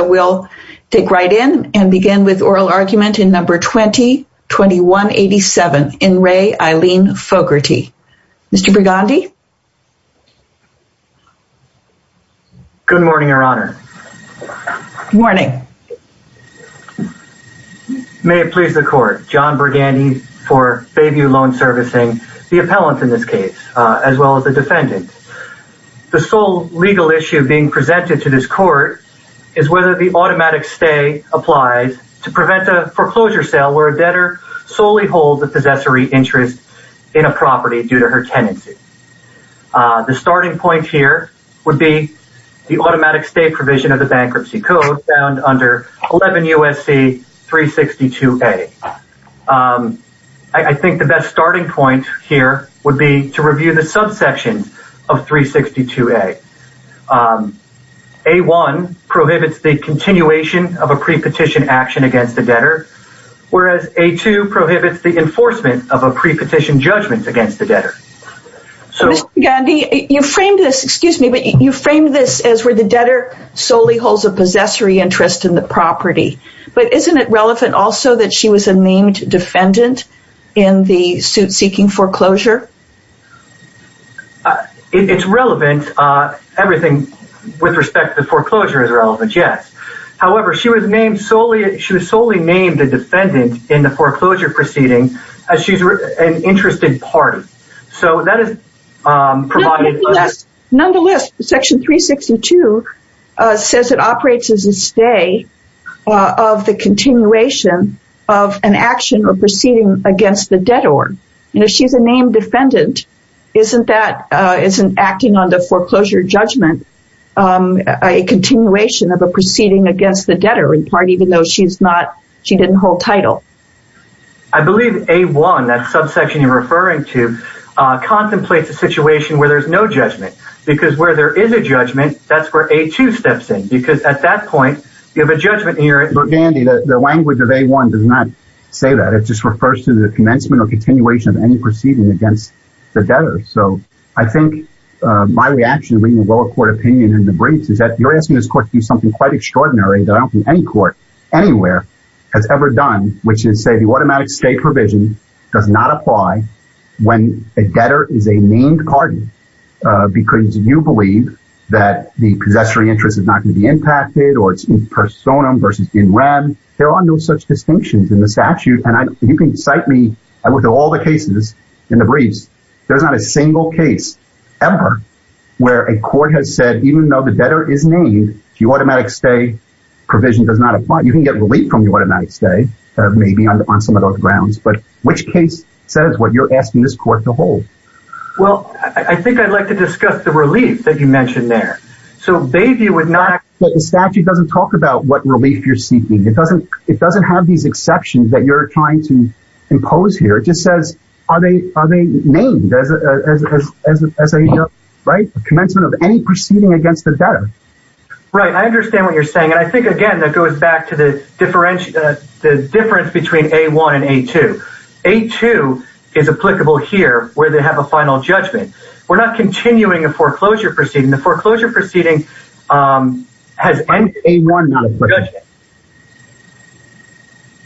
Good morning, Your Honor. Good morning. May it please the Court, John Burgandy for Bayview Loan Servicing, the appellant in this case, as well as the defendant. The sole legal issue being presented to this Court is whether the automatic stay applies to prevent a foreclosure sale where a debtor solely holds a possessory interest in a property due to her tenancy. The starting point here would be the automatic stay provision of the Bankruptcy Code found under 11 U.S.C. 362A. I think the best starting point here would be to review the subsection of 362A. A-1 prohibits the continuation of a pre-petition action against the debtor, whereas A-2 prohibits the enforcement of a pre-petition judgment against the debtor. Mr. Burgandy, you framed this as where the debtor solely holds a possessory interest in the property, but isn't it relevant also that she was a named defendant in the suit seeking foreclosure? It's relevant. Everything with respect to foreclosure is relevant, yes. However, she was solely named a defendant in the foreclosure proceeding as she's an interested party. Nonetheless, Section 362 says it operates as a stay of the continuation of an action or proceeding against the debtor. If she's a named defendant, isn't acting on the foreclosure judgment a continuation of a proceeding against the debtor, in part, even though she didn't hold title? I believe A-1, that subsection you're referring to, contemplates a situation where there's no judgment. Because where there is a judgment, that's where A-2 steps in. Mr. Burgandy, the language of A-1 does not say that. It just refers to the commencement or continuation of any proceeding against the debtor. So I think my reaction reading the lower court opinion in the briefs is that you're asking this court to do something quite extraordinary that I don't think any court anywhere has ever done, which is say the automatic stay provision does not apply when a debtor is a named party. Because you believe that the possessory interest is not going to be impacted or it's in personam versus in rem. There are no such distinctions in the statute. And you can cite me. I look at all the cases in the briefs. There's not a single case ever where a court has said, even though the debtor is named, the automatic stay provision does not apply. You can get relief from the automatic stay, maybe, on some of those grounds. But which case says what you're asking this court to hold? Well, I think I'd like to discuss the relief that you mentioned there. The statute doesn't talk about what relief you're seeking. It doesn't have these exceptions that you're trying to impose here. It just says, are they named as a commencement of any proceeding against the debtor? Right. I understand what you're saying. And I think, again, that goes back to the difference between A-1 and A-2. A-2 is applicable here where they have a final judgment. We're not continuing a foreclosure proceeding. The foreclosure proceeding has ended. Why is A-1 not applicable?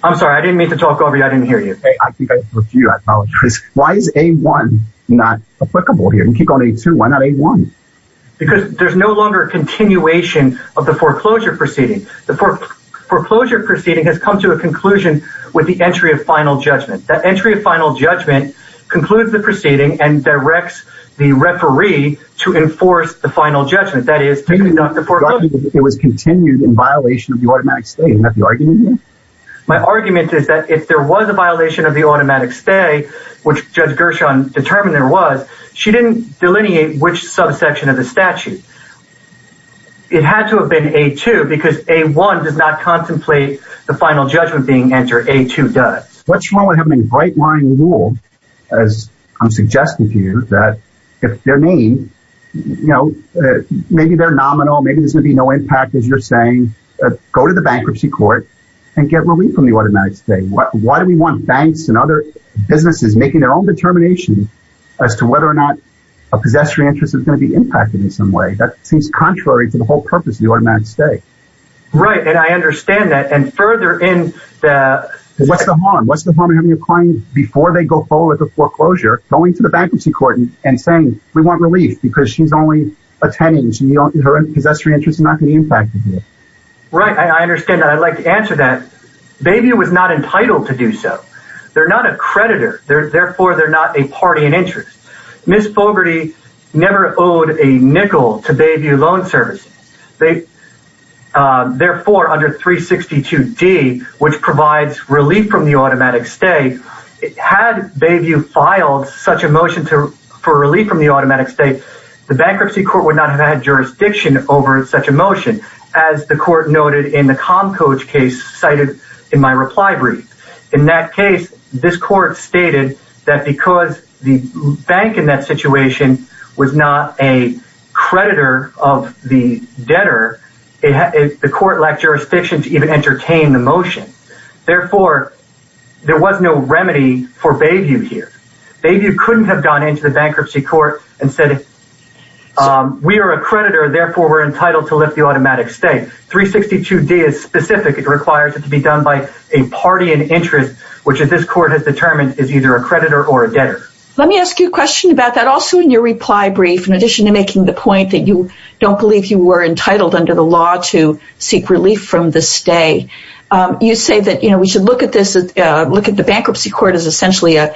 I'm sorry. I didn't mean to talk over you. I didn't hear you. I think I spoke to you. I apologize. Why is A-1 not applicable here? You keep calling it A-2. Why not A-1? Because there's no longer a continuation of the foreclosure proceeding. The foreclosure proceeding has come to a conclusion with the entry of final judgment. That entry of final judgment concludes the proceeding and directs the referee to enforce the final judgment. That is, to conduct the foreclosure. It was continued in violation of the automatic stay. Isn't that the argument here? My argument is that if there was a violation of the automatic stay, which Judge Gershon determined there was, she didn't delineate which subsection of the statute. It had to have been A-2, because A-1 does not contemplate the final judgment being entered. A-2 does. What's wrong with having a bright-line rule, as I'm suggesting to you, that if they're named, maybe they're nominal, maybe there's going to be no impact, as you're saying. Go to the bankruptcy court and get relief from the automatic stay. Why do we want banks and other businesses making their own determination as to whether or not a possessory interest is going to be impacted in some way? That seems contrary to the whole purpose of the automatic stay. Right, and I understand that. What's the harm? What's the harm in having a client, before they go forward with the foreclosure, going to the bankruptcy court and saying, we want relief, because she's only attending. Her possessory interest is not going to be impacted here. Right, I understand that. I'd like to answer that. Bayview was not entitled to do so. They're not a creditor. Therefore, they're not a party in interest. Ms. Fogarty never owed a nickel to Bayview Loan Service. Therefore, under 362D, which provides relief from the automatic stay, had Bayview filed such a motion for relief from the automatic stay, the bankruptcy court would not have had jurisdiction over such a motion, as the court noted in the ComCoach case cited in my reply brief. In that case, this court stated that because the bank in that situation was not a creditor of the debtor, the court lacked jurisdiction to even entertain the motion. Therefore, there was no remedy for Bayview here. Bayview couldn't have gone into the bankruptcy court and said, we are a creditor, therefore we're entitled to lift the automatic stay. Again, 362D is specific. It requires it to be done by a party in interest, which this court has determined is either a creditor or a debtor. Let me ask you a question about that. Also in your reply brief, in addition to making the point that you don't believe you were entitled under the law to seek relief from the stay, you say that we should look at the bankruptcy court as essentially a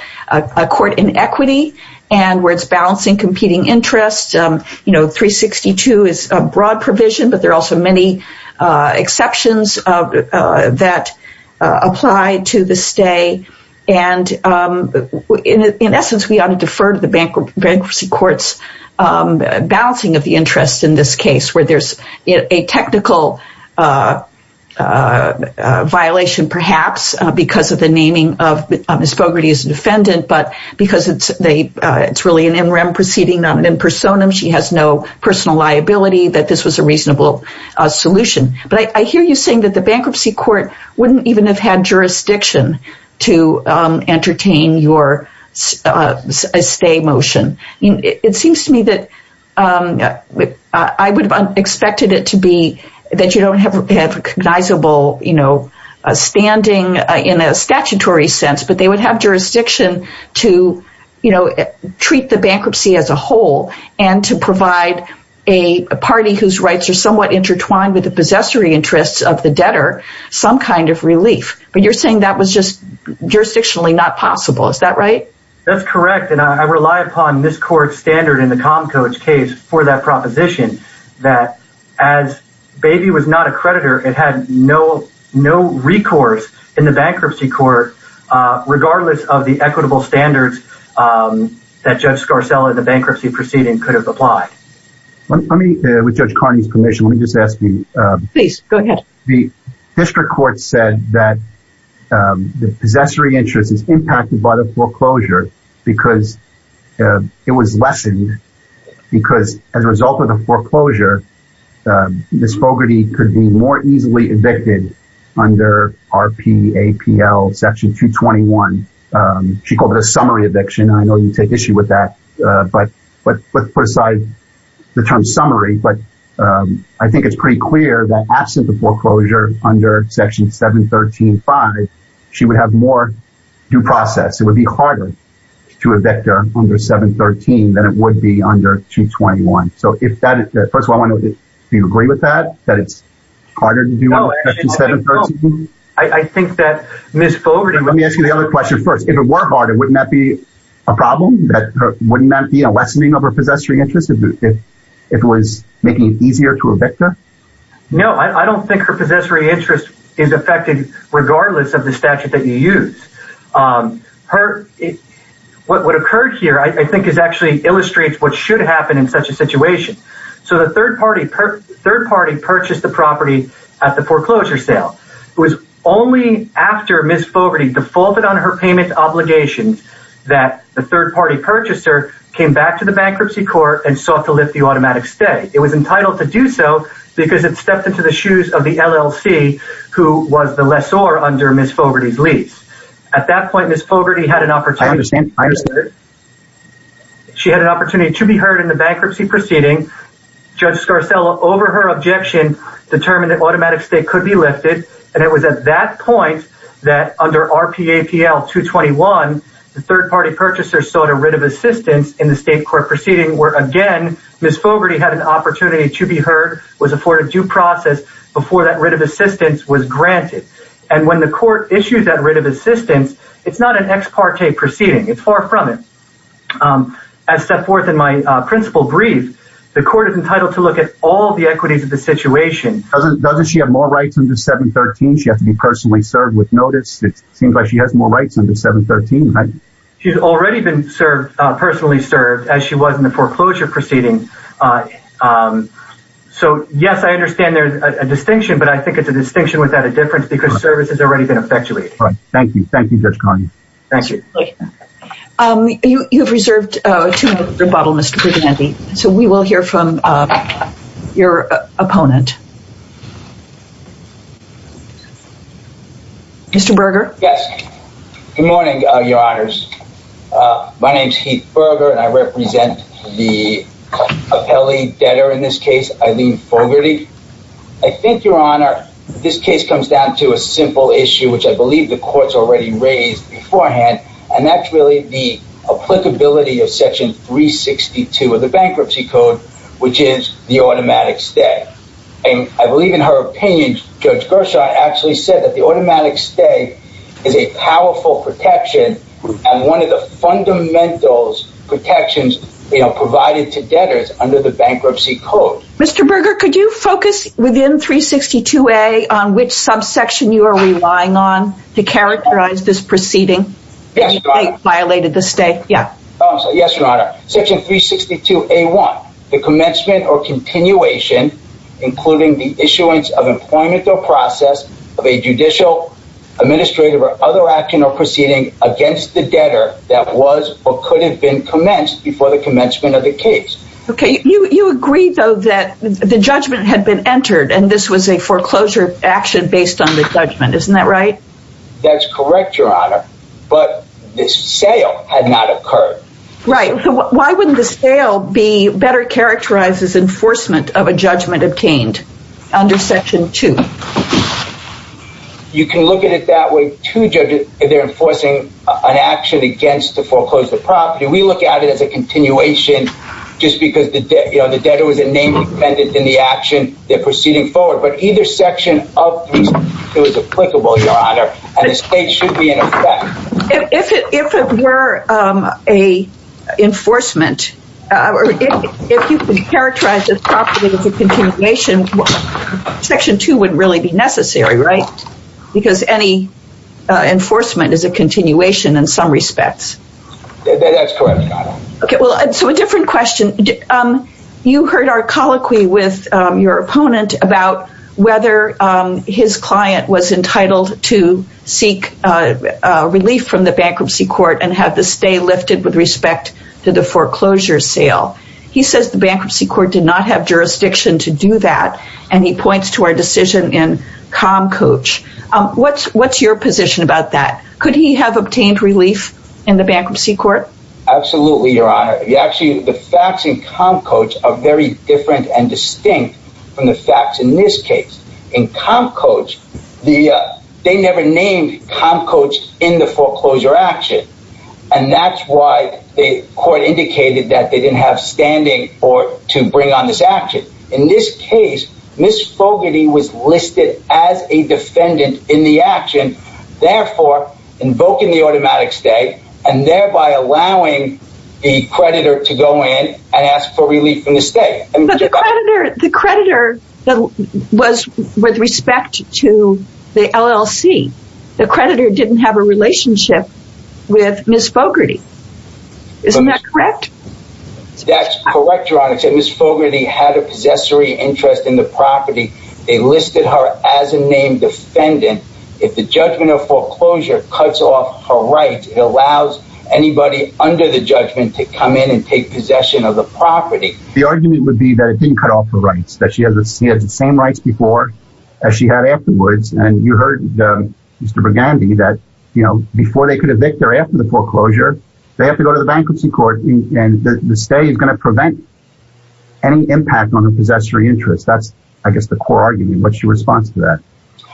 court in equity and where it's balancing competing interests. 362 is a broad provision, but there are also many exceptions that apply to the stay. In essence, we ought to defer to the bankruptcy court's balancing of the interest in this case, where there's a technical violation perhaps because of the naming of Ms. Bogarty as a defendant, but because it's really an in rem proceeding, not an impersonum. She has no personal liability that this was a reasonable solution. But I hear you saying that the bankruptcy court wouldn't even have had jurisdiction to entertain your stay motion. It seems to me that I would have expected it to be that you don't have recognizable standing in a statutory sense, but they would have jurisdiction to treat the bankruptcy as a whole and to provide a party whose rights are somewhat intertwined with the possessory interests of the debtor some kind of relief. But you're saying that was just jurisdictionally not possible. Is that right? That's correct, and I rely upon this court's standard in the Comcoach case for that proposition that as Baby was not a creditor, it had no recourse in the bankruptcy court, regardless of the equitable standards that Judge Scarcella in the bankruptcy proceeding could have applied. Let me, with Judge Carney's permission, let me just ask you. Please, go ahead. The district court said that the possessory interest is impacted by the foreclosure because it was lessened because as a result of the foreclosure, Ms. Bogarty could be more easily evicted under RPAPL section 221. She called it a summary eviction, and I know you take issue with that, but let's put aside the term summary. But I think it's pretty clear that absent the foreclosure under section 713.5, she would have more due process. It would be harder to evict her under 713 than it would be under 221. So first of all, do you agree with that, that it's harder to do it under 713? I think that Ms. Bogarty… Let me ask you the other question first. If it were harder, wouldn't that be a problem? Wouldn't that be a lessening of her possessory interest if it was making it easier to evict her? No, I don't think her possessory interest is affected regardless of the statute that you use. What occurred here I think is actually illustrates what should happen in such a situation. So the third party purchased the property at the foreclosure sale. It was only after Ms. Bogarty defaulted on her payment obligations that the third party purchaser came back to the bankruptcy court and sought to lift the automatic stay. It was entitled to do so because it stepped into the shoes of the LLC who was the lessor under Ms. Bogarty's lease. At that point, Ms. Bogarty had an opportunity… I understand. I understand. She had an opportunity to be heard in the bankruptcy proceeding. Judge Scarcella, over her objection, determined that automatic stay could be lifted. And it was at that point that under RPAPL 221, the third party purchaser sought a writ of assistance in the state court proceeding where, again, Ms. Bogarty had an opportunity to be heard, was afforded due process before that writ of assistance was granted. And when the court issues that writ of assistance, it's not an ex parte proceeding. It's far from it. As set forth in my principal brief, the court is entitled to look at all the equities of the situation. Doesn't she have more rights under 713? She has to be personally served with notice. It seems like she has more rights under 713, right? She's already been personally served as she was in the foreclosure proceeding. So, yes, I understand there's a distinction, but I think it's a distinction without a difference because service has already been effectuated. Thank you. Thank you, Judge Cargill. Thank you. You've reserved a two-minute rebuttal, Mr. Brignanti. So we will hear from your opponent. Mr. Berger? Yes. Good morning, Your Honors. My name's Heath Berger, and I represent the appellee debtor in this case, Eileen Bogarty. I think, Your Honor, this case comes down to a simple issue, which I believe the court's already raised beforehand, and that's really the applicability of Section 362 of the Bankruptcy Code, which is the automatic stay. And I believe in her opinion, Judge Gershaw actually said that the automatic stay is a powerful protection and one of the fundamental protections, you know, provided to debtors under the Bankruptcy Code. Mr. Berger, could you focus within 362A on which subsection you are relying on to characterize this proceeding? Yes, Your Honor. It violated the stay. Yeah. Oh, I'm sorry. Yes, Your Honor. Section 362A1, the commencement or continuation, including the issuance of employment or process of a judicial, administrative, or other action or proceeding against the debtor that was or could have been commenced before the commencement of the case. Okay. You agreed, though, that the judgment had been entered, and this was a foreclosure action based on the judgment. Isn't that right? That's correct, Your Honor, but the sale had not occurred. Right. Why wouldn't the sale be better characterized as enforcement of a judgment obtained under Section 2? You can look at it that way. Two judges, they're enforcing an action against the foreclosure property. We look at it as a continuation just because the debtor was a name dependent in the action they're proceeding forward. But either section of 362 is applicable, Your Honor, and the stay should be in effect. If it were a enforcement, if you can characterize this property as a continuation, Section 2 wouldn't really be necessary, right? Because any enforcement is a continuation in some respects. That's correct, Your Honor. Okay. Well, so a different question. You heard our colloquy with your opponent about whether his client was entitled to seek relief from the bankruptcy court and have the stay lifted with respect to the foreclosure sale. He says the bankruptcy court did not have jurisdiction to do that, and he points to our decision in ComCoach. What's your position about that? Could he have obtained relief in the bankruptcy court? Absolutely, Your Honor. Actually, the facts in ComCoach are very different and distinct from the facts in this case. In ComCoach, they never named ComCoach in the foreclosure action, and that's why the court indicated that they didn't have standing to bring on this action. In this case, Ms. Fogarty was listed as a defendant in the action, therefore invoking the automatic stay and thereby allowing the creditor to go in and ask for relief from the stay. But the creditor was with respect to the LLC. The creditor didn't have a relationship with Ms. Fogarty. Isn't that correct? That's correct, Your Honor. Ms. Fogarty had a possessory interest in the property. They listed her as a named defendant. If the judgment of foreclosure cuts off her rights, it allows anybody under the judgment to come in and take possession of the property. The argument would be that it didn't cut off her rights, that she had the same rights before as she had afterwards, and you heard Mr. Burgandy that before they could evict her after the foreclosure, they have to go to the bankruptcy court, and the stay is going to prevent any impact on the possessory interest. That's, I guess, the core argument. What's your response to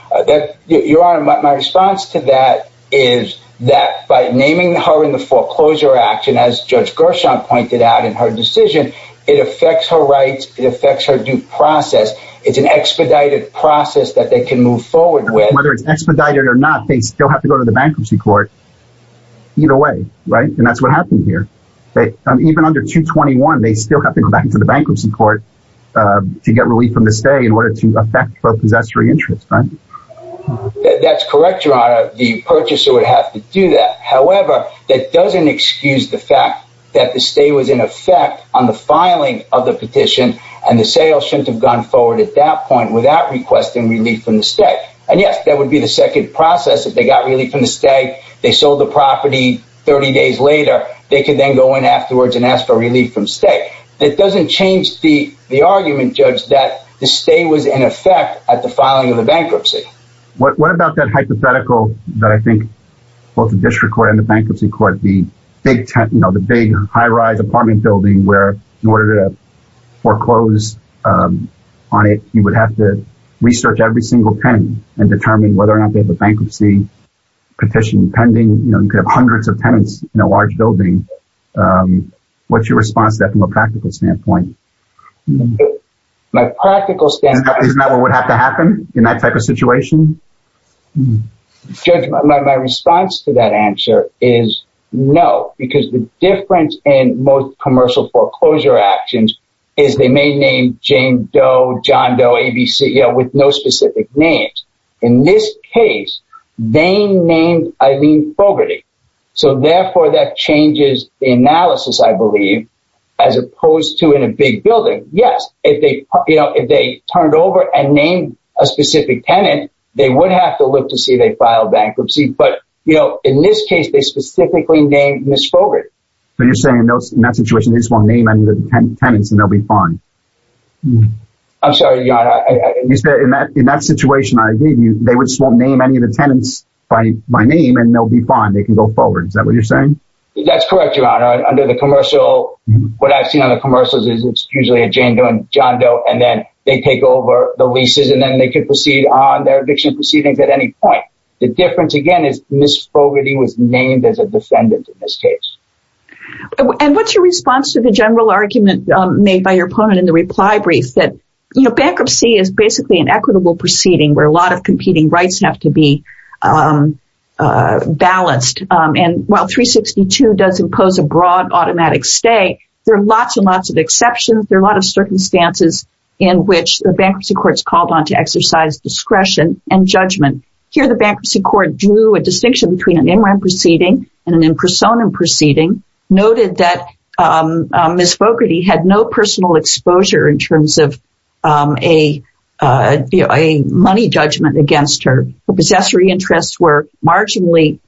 that? Your Honor, my response to that is that by naming her in the foreclosure action, as Judge Gershon pointed out in her decision, it affects her rights, it affects her due process. It's an expedited process that they can move forward with. Whether it's expedited or not, they still have to go to the bankruptcy court either way, right? And that's what happened here. Even under 221, they still have to go back into the bankruptcy court to get relief from the stay in order to affect both possessory interests, right? That's correct, Your Honor. The purchaser would have to do that. However, that doesn't excuse the fact that the stay was in effect on the filing of the petition, and the sale shouldn't have gone forward at that point without requesting relief from the stay. And yes, that would be the second process if they got relief from the stay, they sold the property 30 days later, they could then go in afterwards and ask for relief from stay. It doesn't change the argument, Judge, that the stay was in effect at the filing of the bankruptcy. What about that hypothetical that I think both the district court and the bankruptcy court, the big high rise apartment building where in order to foreclose on it, you would have to research every single tenant and determine whether or not they have a bankruptcy petition pending, you know, you could have hundreds of tenants in a large building. What's your response to that from a practical standpoint? My practical stand is not what would have to happen in that type of situation. My response to that answer is no, because the difference in most commercial foreclosure actions is they may name Jane Doe, John Doe, ABC with no specific names. In this case, they named Eileen Fogarty. So therefore that changes the analysis, I believe, as opposed to in a big building. Yes, if they, you know, if they turn it over and name a specific tenant, they would have to look to see they filed bankruptcy. But, you know, in this case, they specifically named Ms. Fogarty. So you're saying in that situation, they just won't name any of the tenants and they'll be fine. I'm sorry, Your Honor. In that situation, I agree with you. They just won't name any of the tenants by name and they'll be fine. They can go forward. Is that what you're saying? That's correct, Your Honor. Under the commercial, what I've seen on the commercials is it's usually a Jane Doe and John Doe and then they take over the leases and then they could proceed on their eviction proceedings at any point. The difference, again, is Ms. Fogarty was named as a defendant in this case. And what's your response to the general argument made by your opponent in the reply brief that, you know, bankruptcy is basically an equitable proceeding where a lot of competing rights have to be balanced? And while 362 does impose a broad automatic stay, there are lots and lots of exceptions. There are a lot of circumstances in which the bankruptcy court is called on to exercise discretion and judgment. Here, the bankruptcy court drew a distinction between an in-rent proceeding and an in-persona proceeding, noted that Ms. Fogarty had no personal exposure in terms of a money judgment against her. Possessory interests were marginally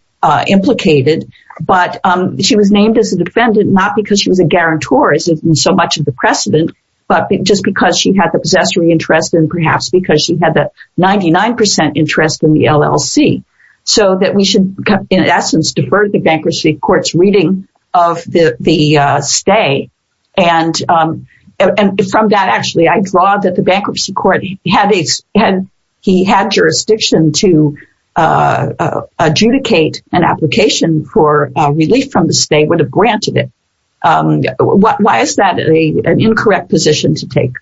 implicated, but she was named as a defendant not because she was a guarantor, as in so much of the precedent, but just because she had the possessory interest and perhaps because she had the 99 percent interest in the LLC. So that we should, in essence, defer the bankruptcy court's reading of the stay. And from that, actually, I draw that the bankruptcy court had jurisdiction to adjudicate an application for relief from the stay, would have granted it. Why is that an incorrect position to take?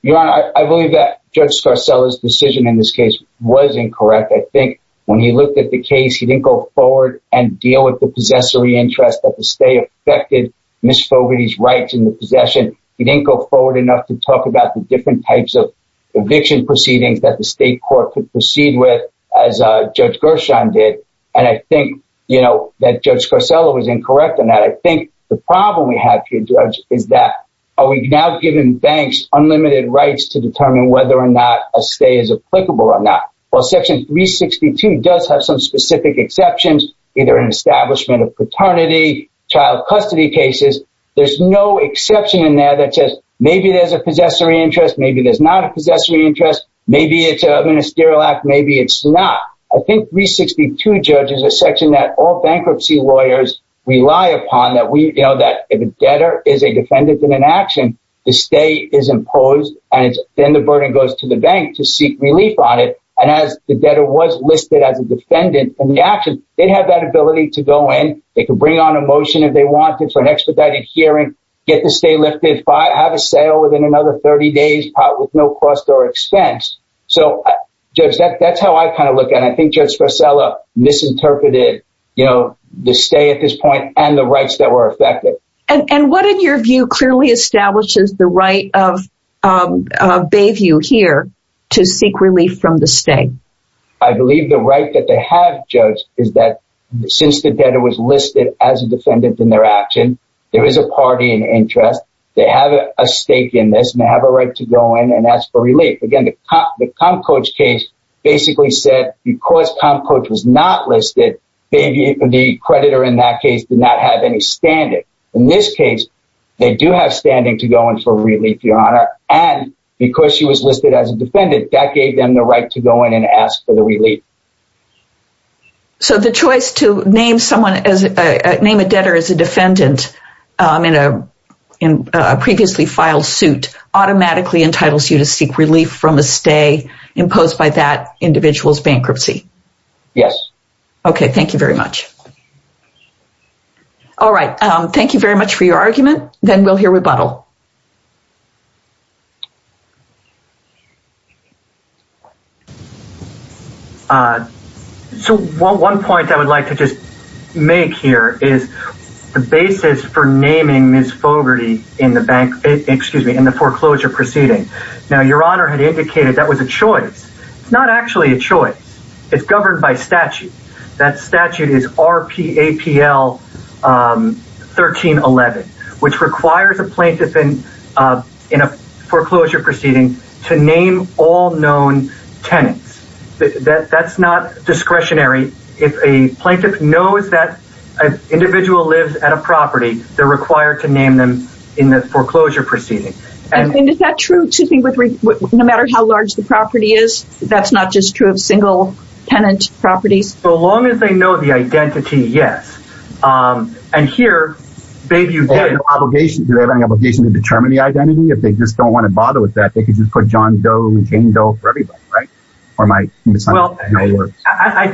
Your Honor, I believe that Judge Scarcella's decision in this case was incorrect. I think when he looked at the case, he didn't go forward and deal with the possessory interest that the stay affected Ms. Fogarty's rights in the possession. He didn't go forward enough to talk about the different types of eviction proceedings that the state court could proceed with, as Judge Gershon did. And I think, you know, that Judge Scarcella was incorrect on that. I think the problem we have here, Judge, is that are we now giving banks unlimited rights to determine whether or not a stay is applicable or not? Well, Section 362 does have some specific exceptions, either an establishment of paternity, child custody cases. There's no exception in there that says maybe there's a possessory interest, maybe there's not a possessory interest, maybe it's a ministerial act, maybe it's not. I think 362, Judge, is a section that all bankruptcy lawyers rely upon, that if a debtor is a defendant in an action, the stay is imposed and then the burden goes to the bank to seek relief on it. And as the debtor was listed as a defendant in the action, they'd have that ability to go in. They could bring on a motion if they wanted for an expedited hearing, get the stay lifted, have a sale within another 30 days with no cost or expense. So, Judge, that's how I kind of look at it. I think Judge Scarcella misinterpreted, you know, the stay at this point and the rights that were affected. And what, in your view, clearly establishes the right of Bayview here to seek relief from the stay? I believe the right that they have, Judge, is that since the debtor was listed as a defendant in their action, there is a party in interest. They have a stake in this and they have a right to go in and ask for relief. Again, the Comcoach case basically said because Comcoach was not listed, the creditor in that case did not have any standing. In this case, they do have standing to go in for relief, Your Honor, and because she was listed as a defendant, that gave them the right to go in and ask for the relief. So the choice to name a debtor as a defendant in a previously filed suit automatically entitles you to seek relief from a stay imposed by that individual's bankruptcy? Yes. Okay, thank you very much. All right, thank you very much for your argument. Then we'll hear rebuttal. So one point I would like to just make here is the basis for naming Ms. Fogarty in the bank, excuse me, in the foreclosure proceeding. Now, Your Honor had indicated that was a choice. It's not actually a choice. It's governed by statute. That statute is RPAPL 1311, which requires a plaintiff in a foreclosure proceeding to name all known tenants. That's not discretionary. If a plaintiff knows that an individual lives at a property, they're required to name them in the foreclosure proceeding. And is that true, no matter how large the property is? That's not just true of single tenant properties? So long as they know the identity, yes. And here, maybe you did. Do they have any obligation to determine the identity? If they just don't want to bother with that, they could just put John Doe and Jane Doe for everybody, right? Well, I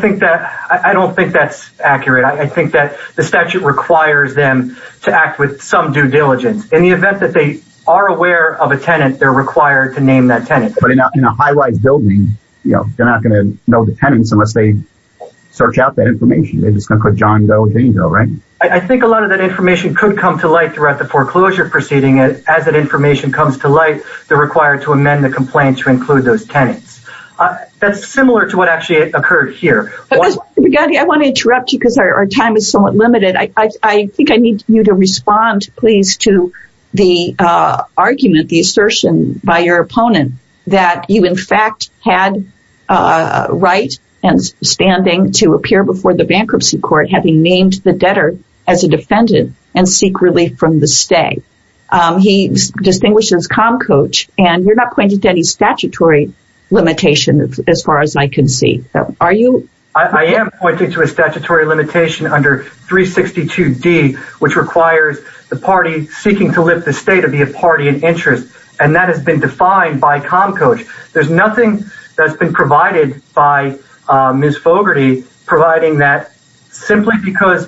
don't think that's accurate. I think that the statute requires them to act with some due diligence. In the event that they are aware of a tenant, they're required to name that tenant. But in a high-rise building, you know, they're not going to know the tenants unless they search out that information. They're just going to put John Doe and Jane Doe, right? I think a lot of that information could come to light throughout the foreclosure proceeding. As that information comes to light, they're required to amend the complaint to include those tenants. That's similar to what actually occurred here. I want to interrupt you because our time is somewhat limited. I think I need you to respond, please, to the argument, the assertion by your opponent that you, in fact, had a right and standing to appear before the bankruptcy court having named the debtor as a defendant and seek relief from the stay. He distinguishes ComCoach, and you're not pointing to any statutory limitation as far as I can see. I am pointing to a statutory limitation under 362D, which requires the party seeking to lift the stay to be a party in interest, and that has been defined by ComCoach. There's nothing that's been provided by Ms. Fogarty providing that simply because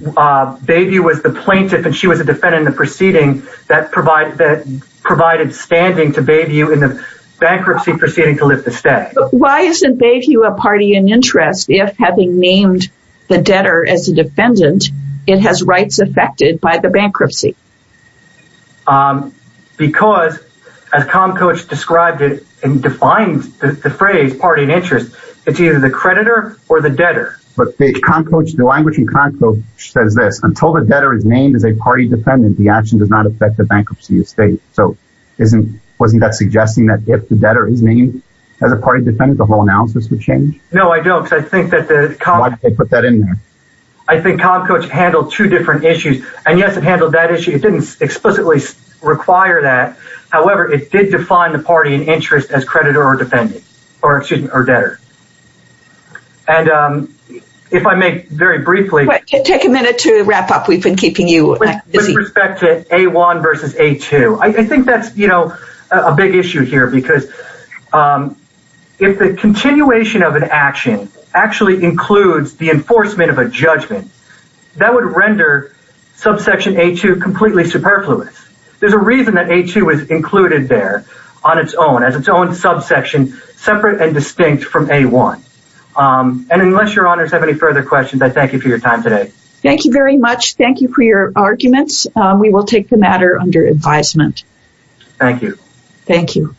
Bayview was the plaintiff and she was a defendant in the proceeding that provided standing to Bayview in the bankruptcy proceeding to lift the stay. Why isn't Bayview a party in interest if, having named the debtor as a defendant, it has rights affected by the bankruptcy? Because, as ComCoach described it and defined the phrase party in interest, it's either the creditor or the debtor. But ComCoach, the language in ComCoach says this. Until the debtor is named as a party defendant, the action does not affect the bankruptcy estate. Wasn't that suggesting that if the debtor is named as a party defendant, the whole analysis would change? No, I don't. Why did they put that in there? I think ComCoach handled two different issues. And, yes, it handled that issue. It didn't explicitly require that. However, it did define the party in interest as creditor or debtor. Take a minute to wrap up. We've been keeping you busy. With respect to A1 versus A2, I think that's a big issue here because if the continuation of an action actually includes the enforcement of a judgment, that would render subsection A2 completely superfluous. There's a reason that A2 was included there on its own as its own subsection separate and distinct from A1. And unless your honors have any further questions, I thank you for your time today. Thank you very much. Thank you for your arguments. We will take the matter under advisement. Thank you. Thank you.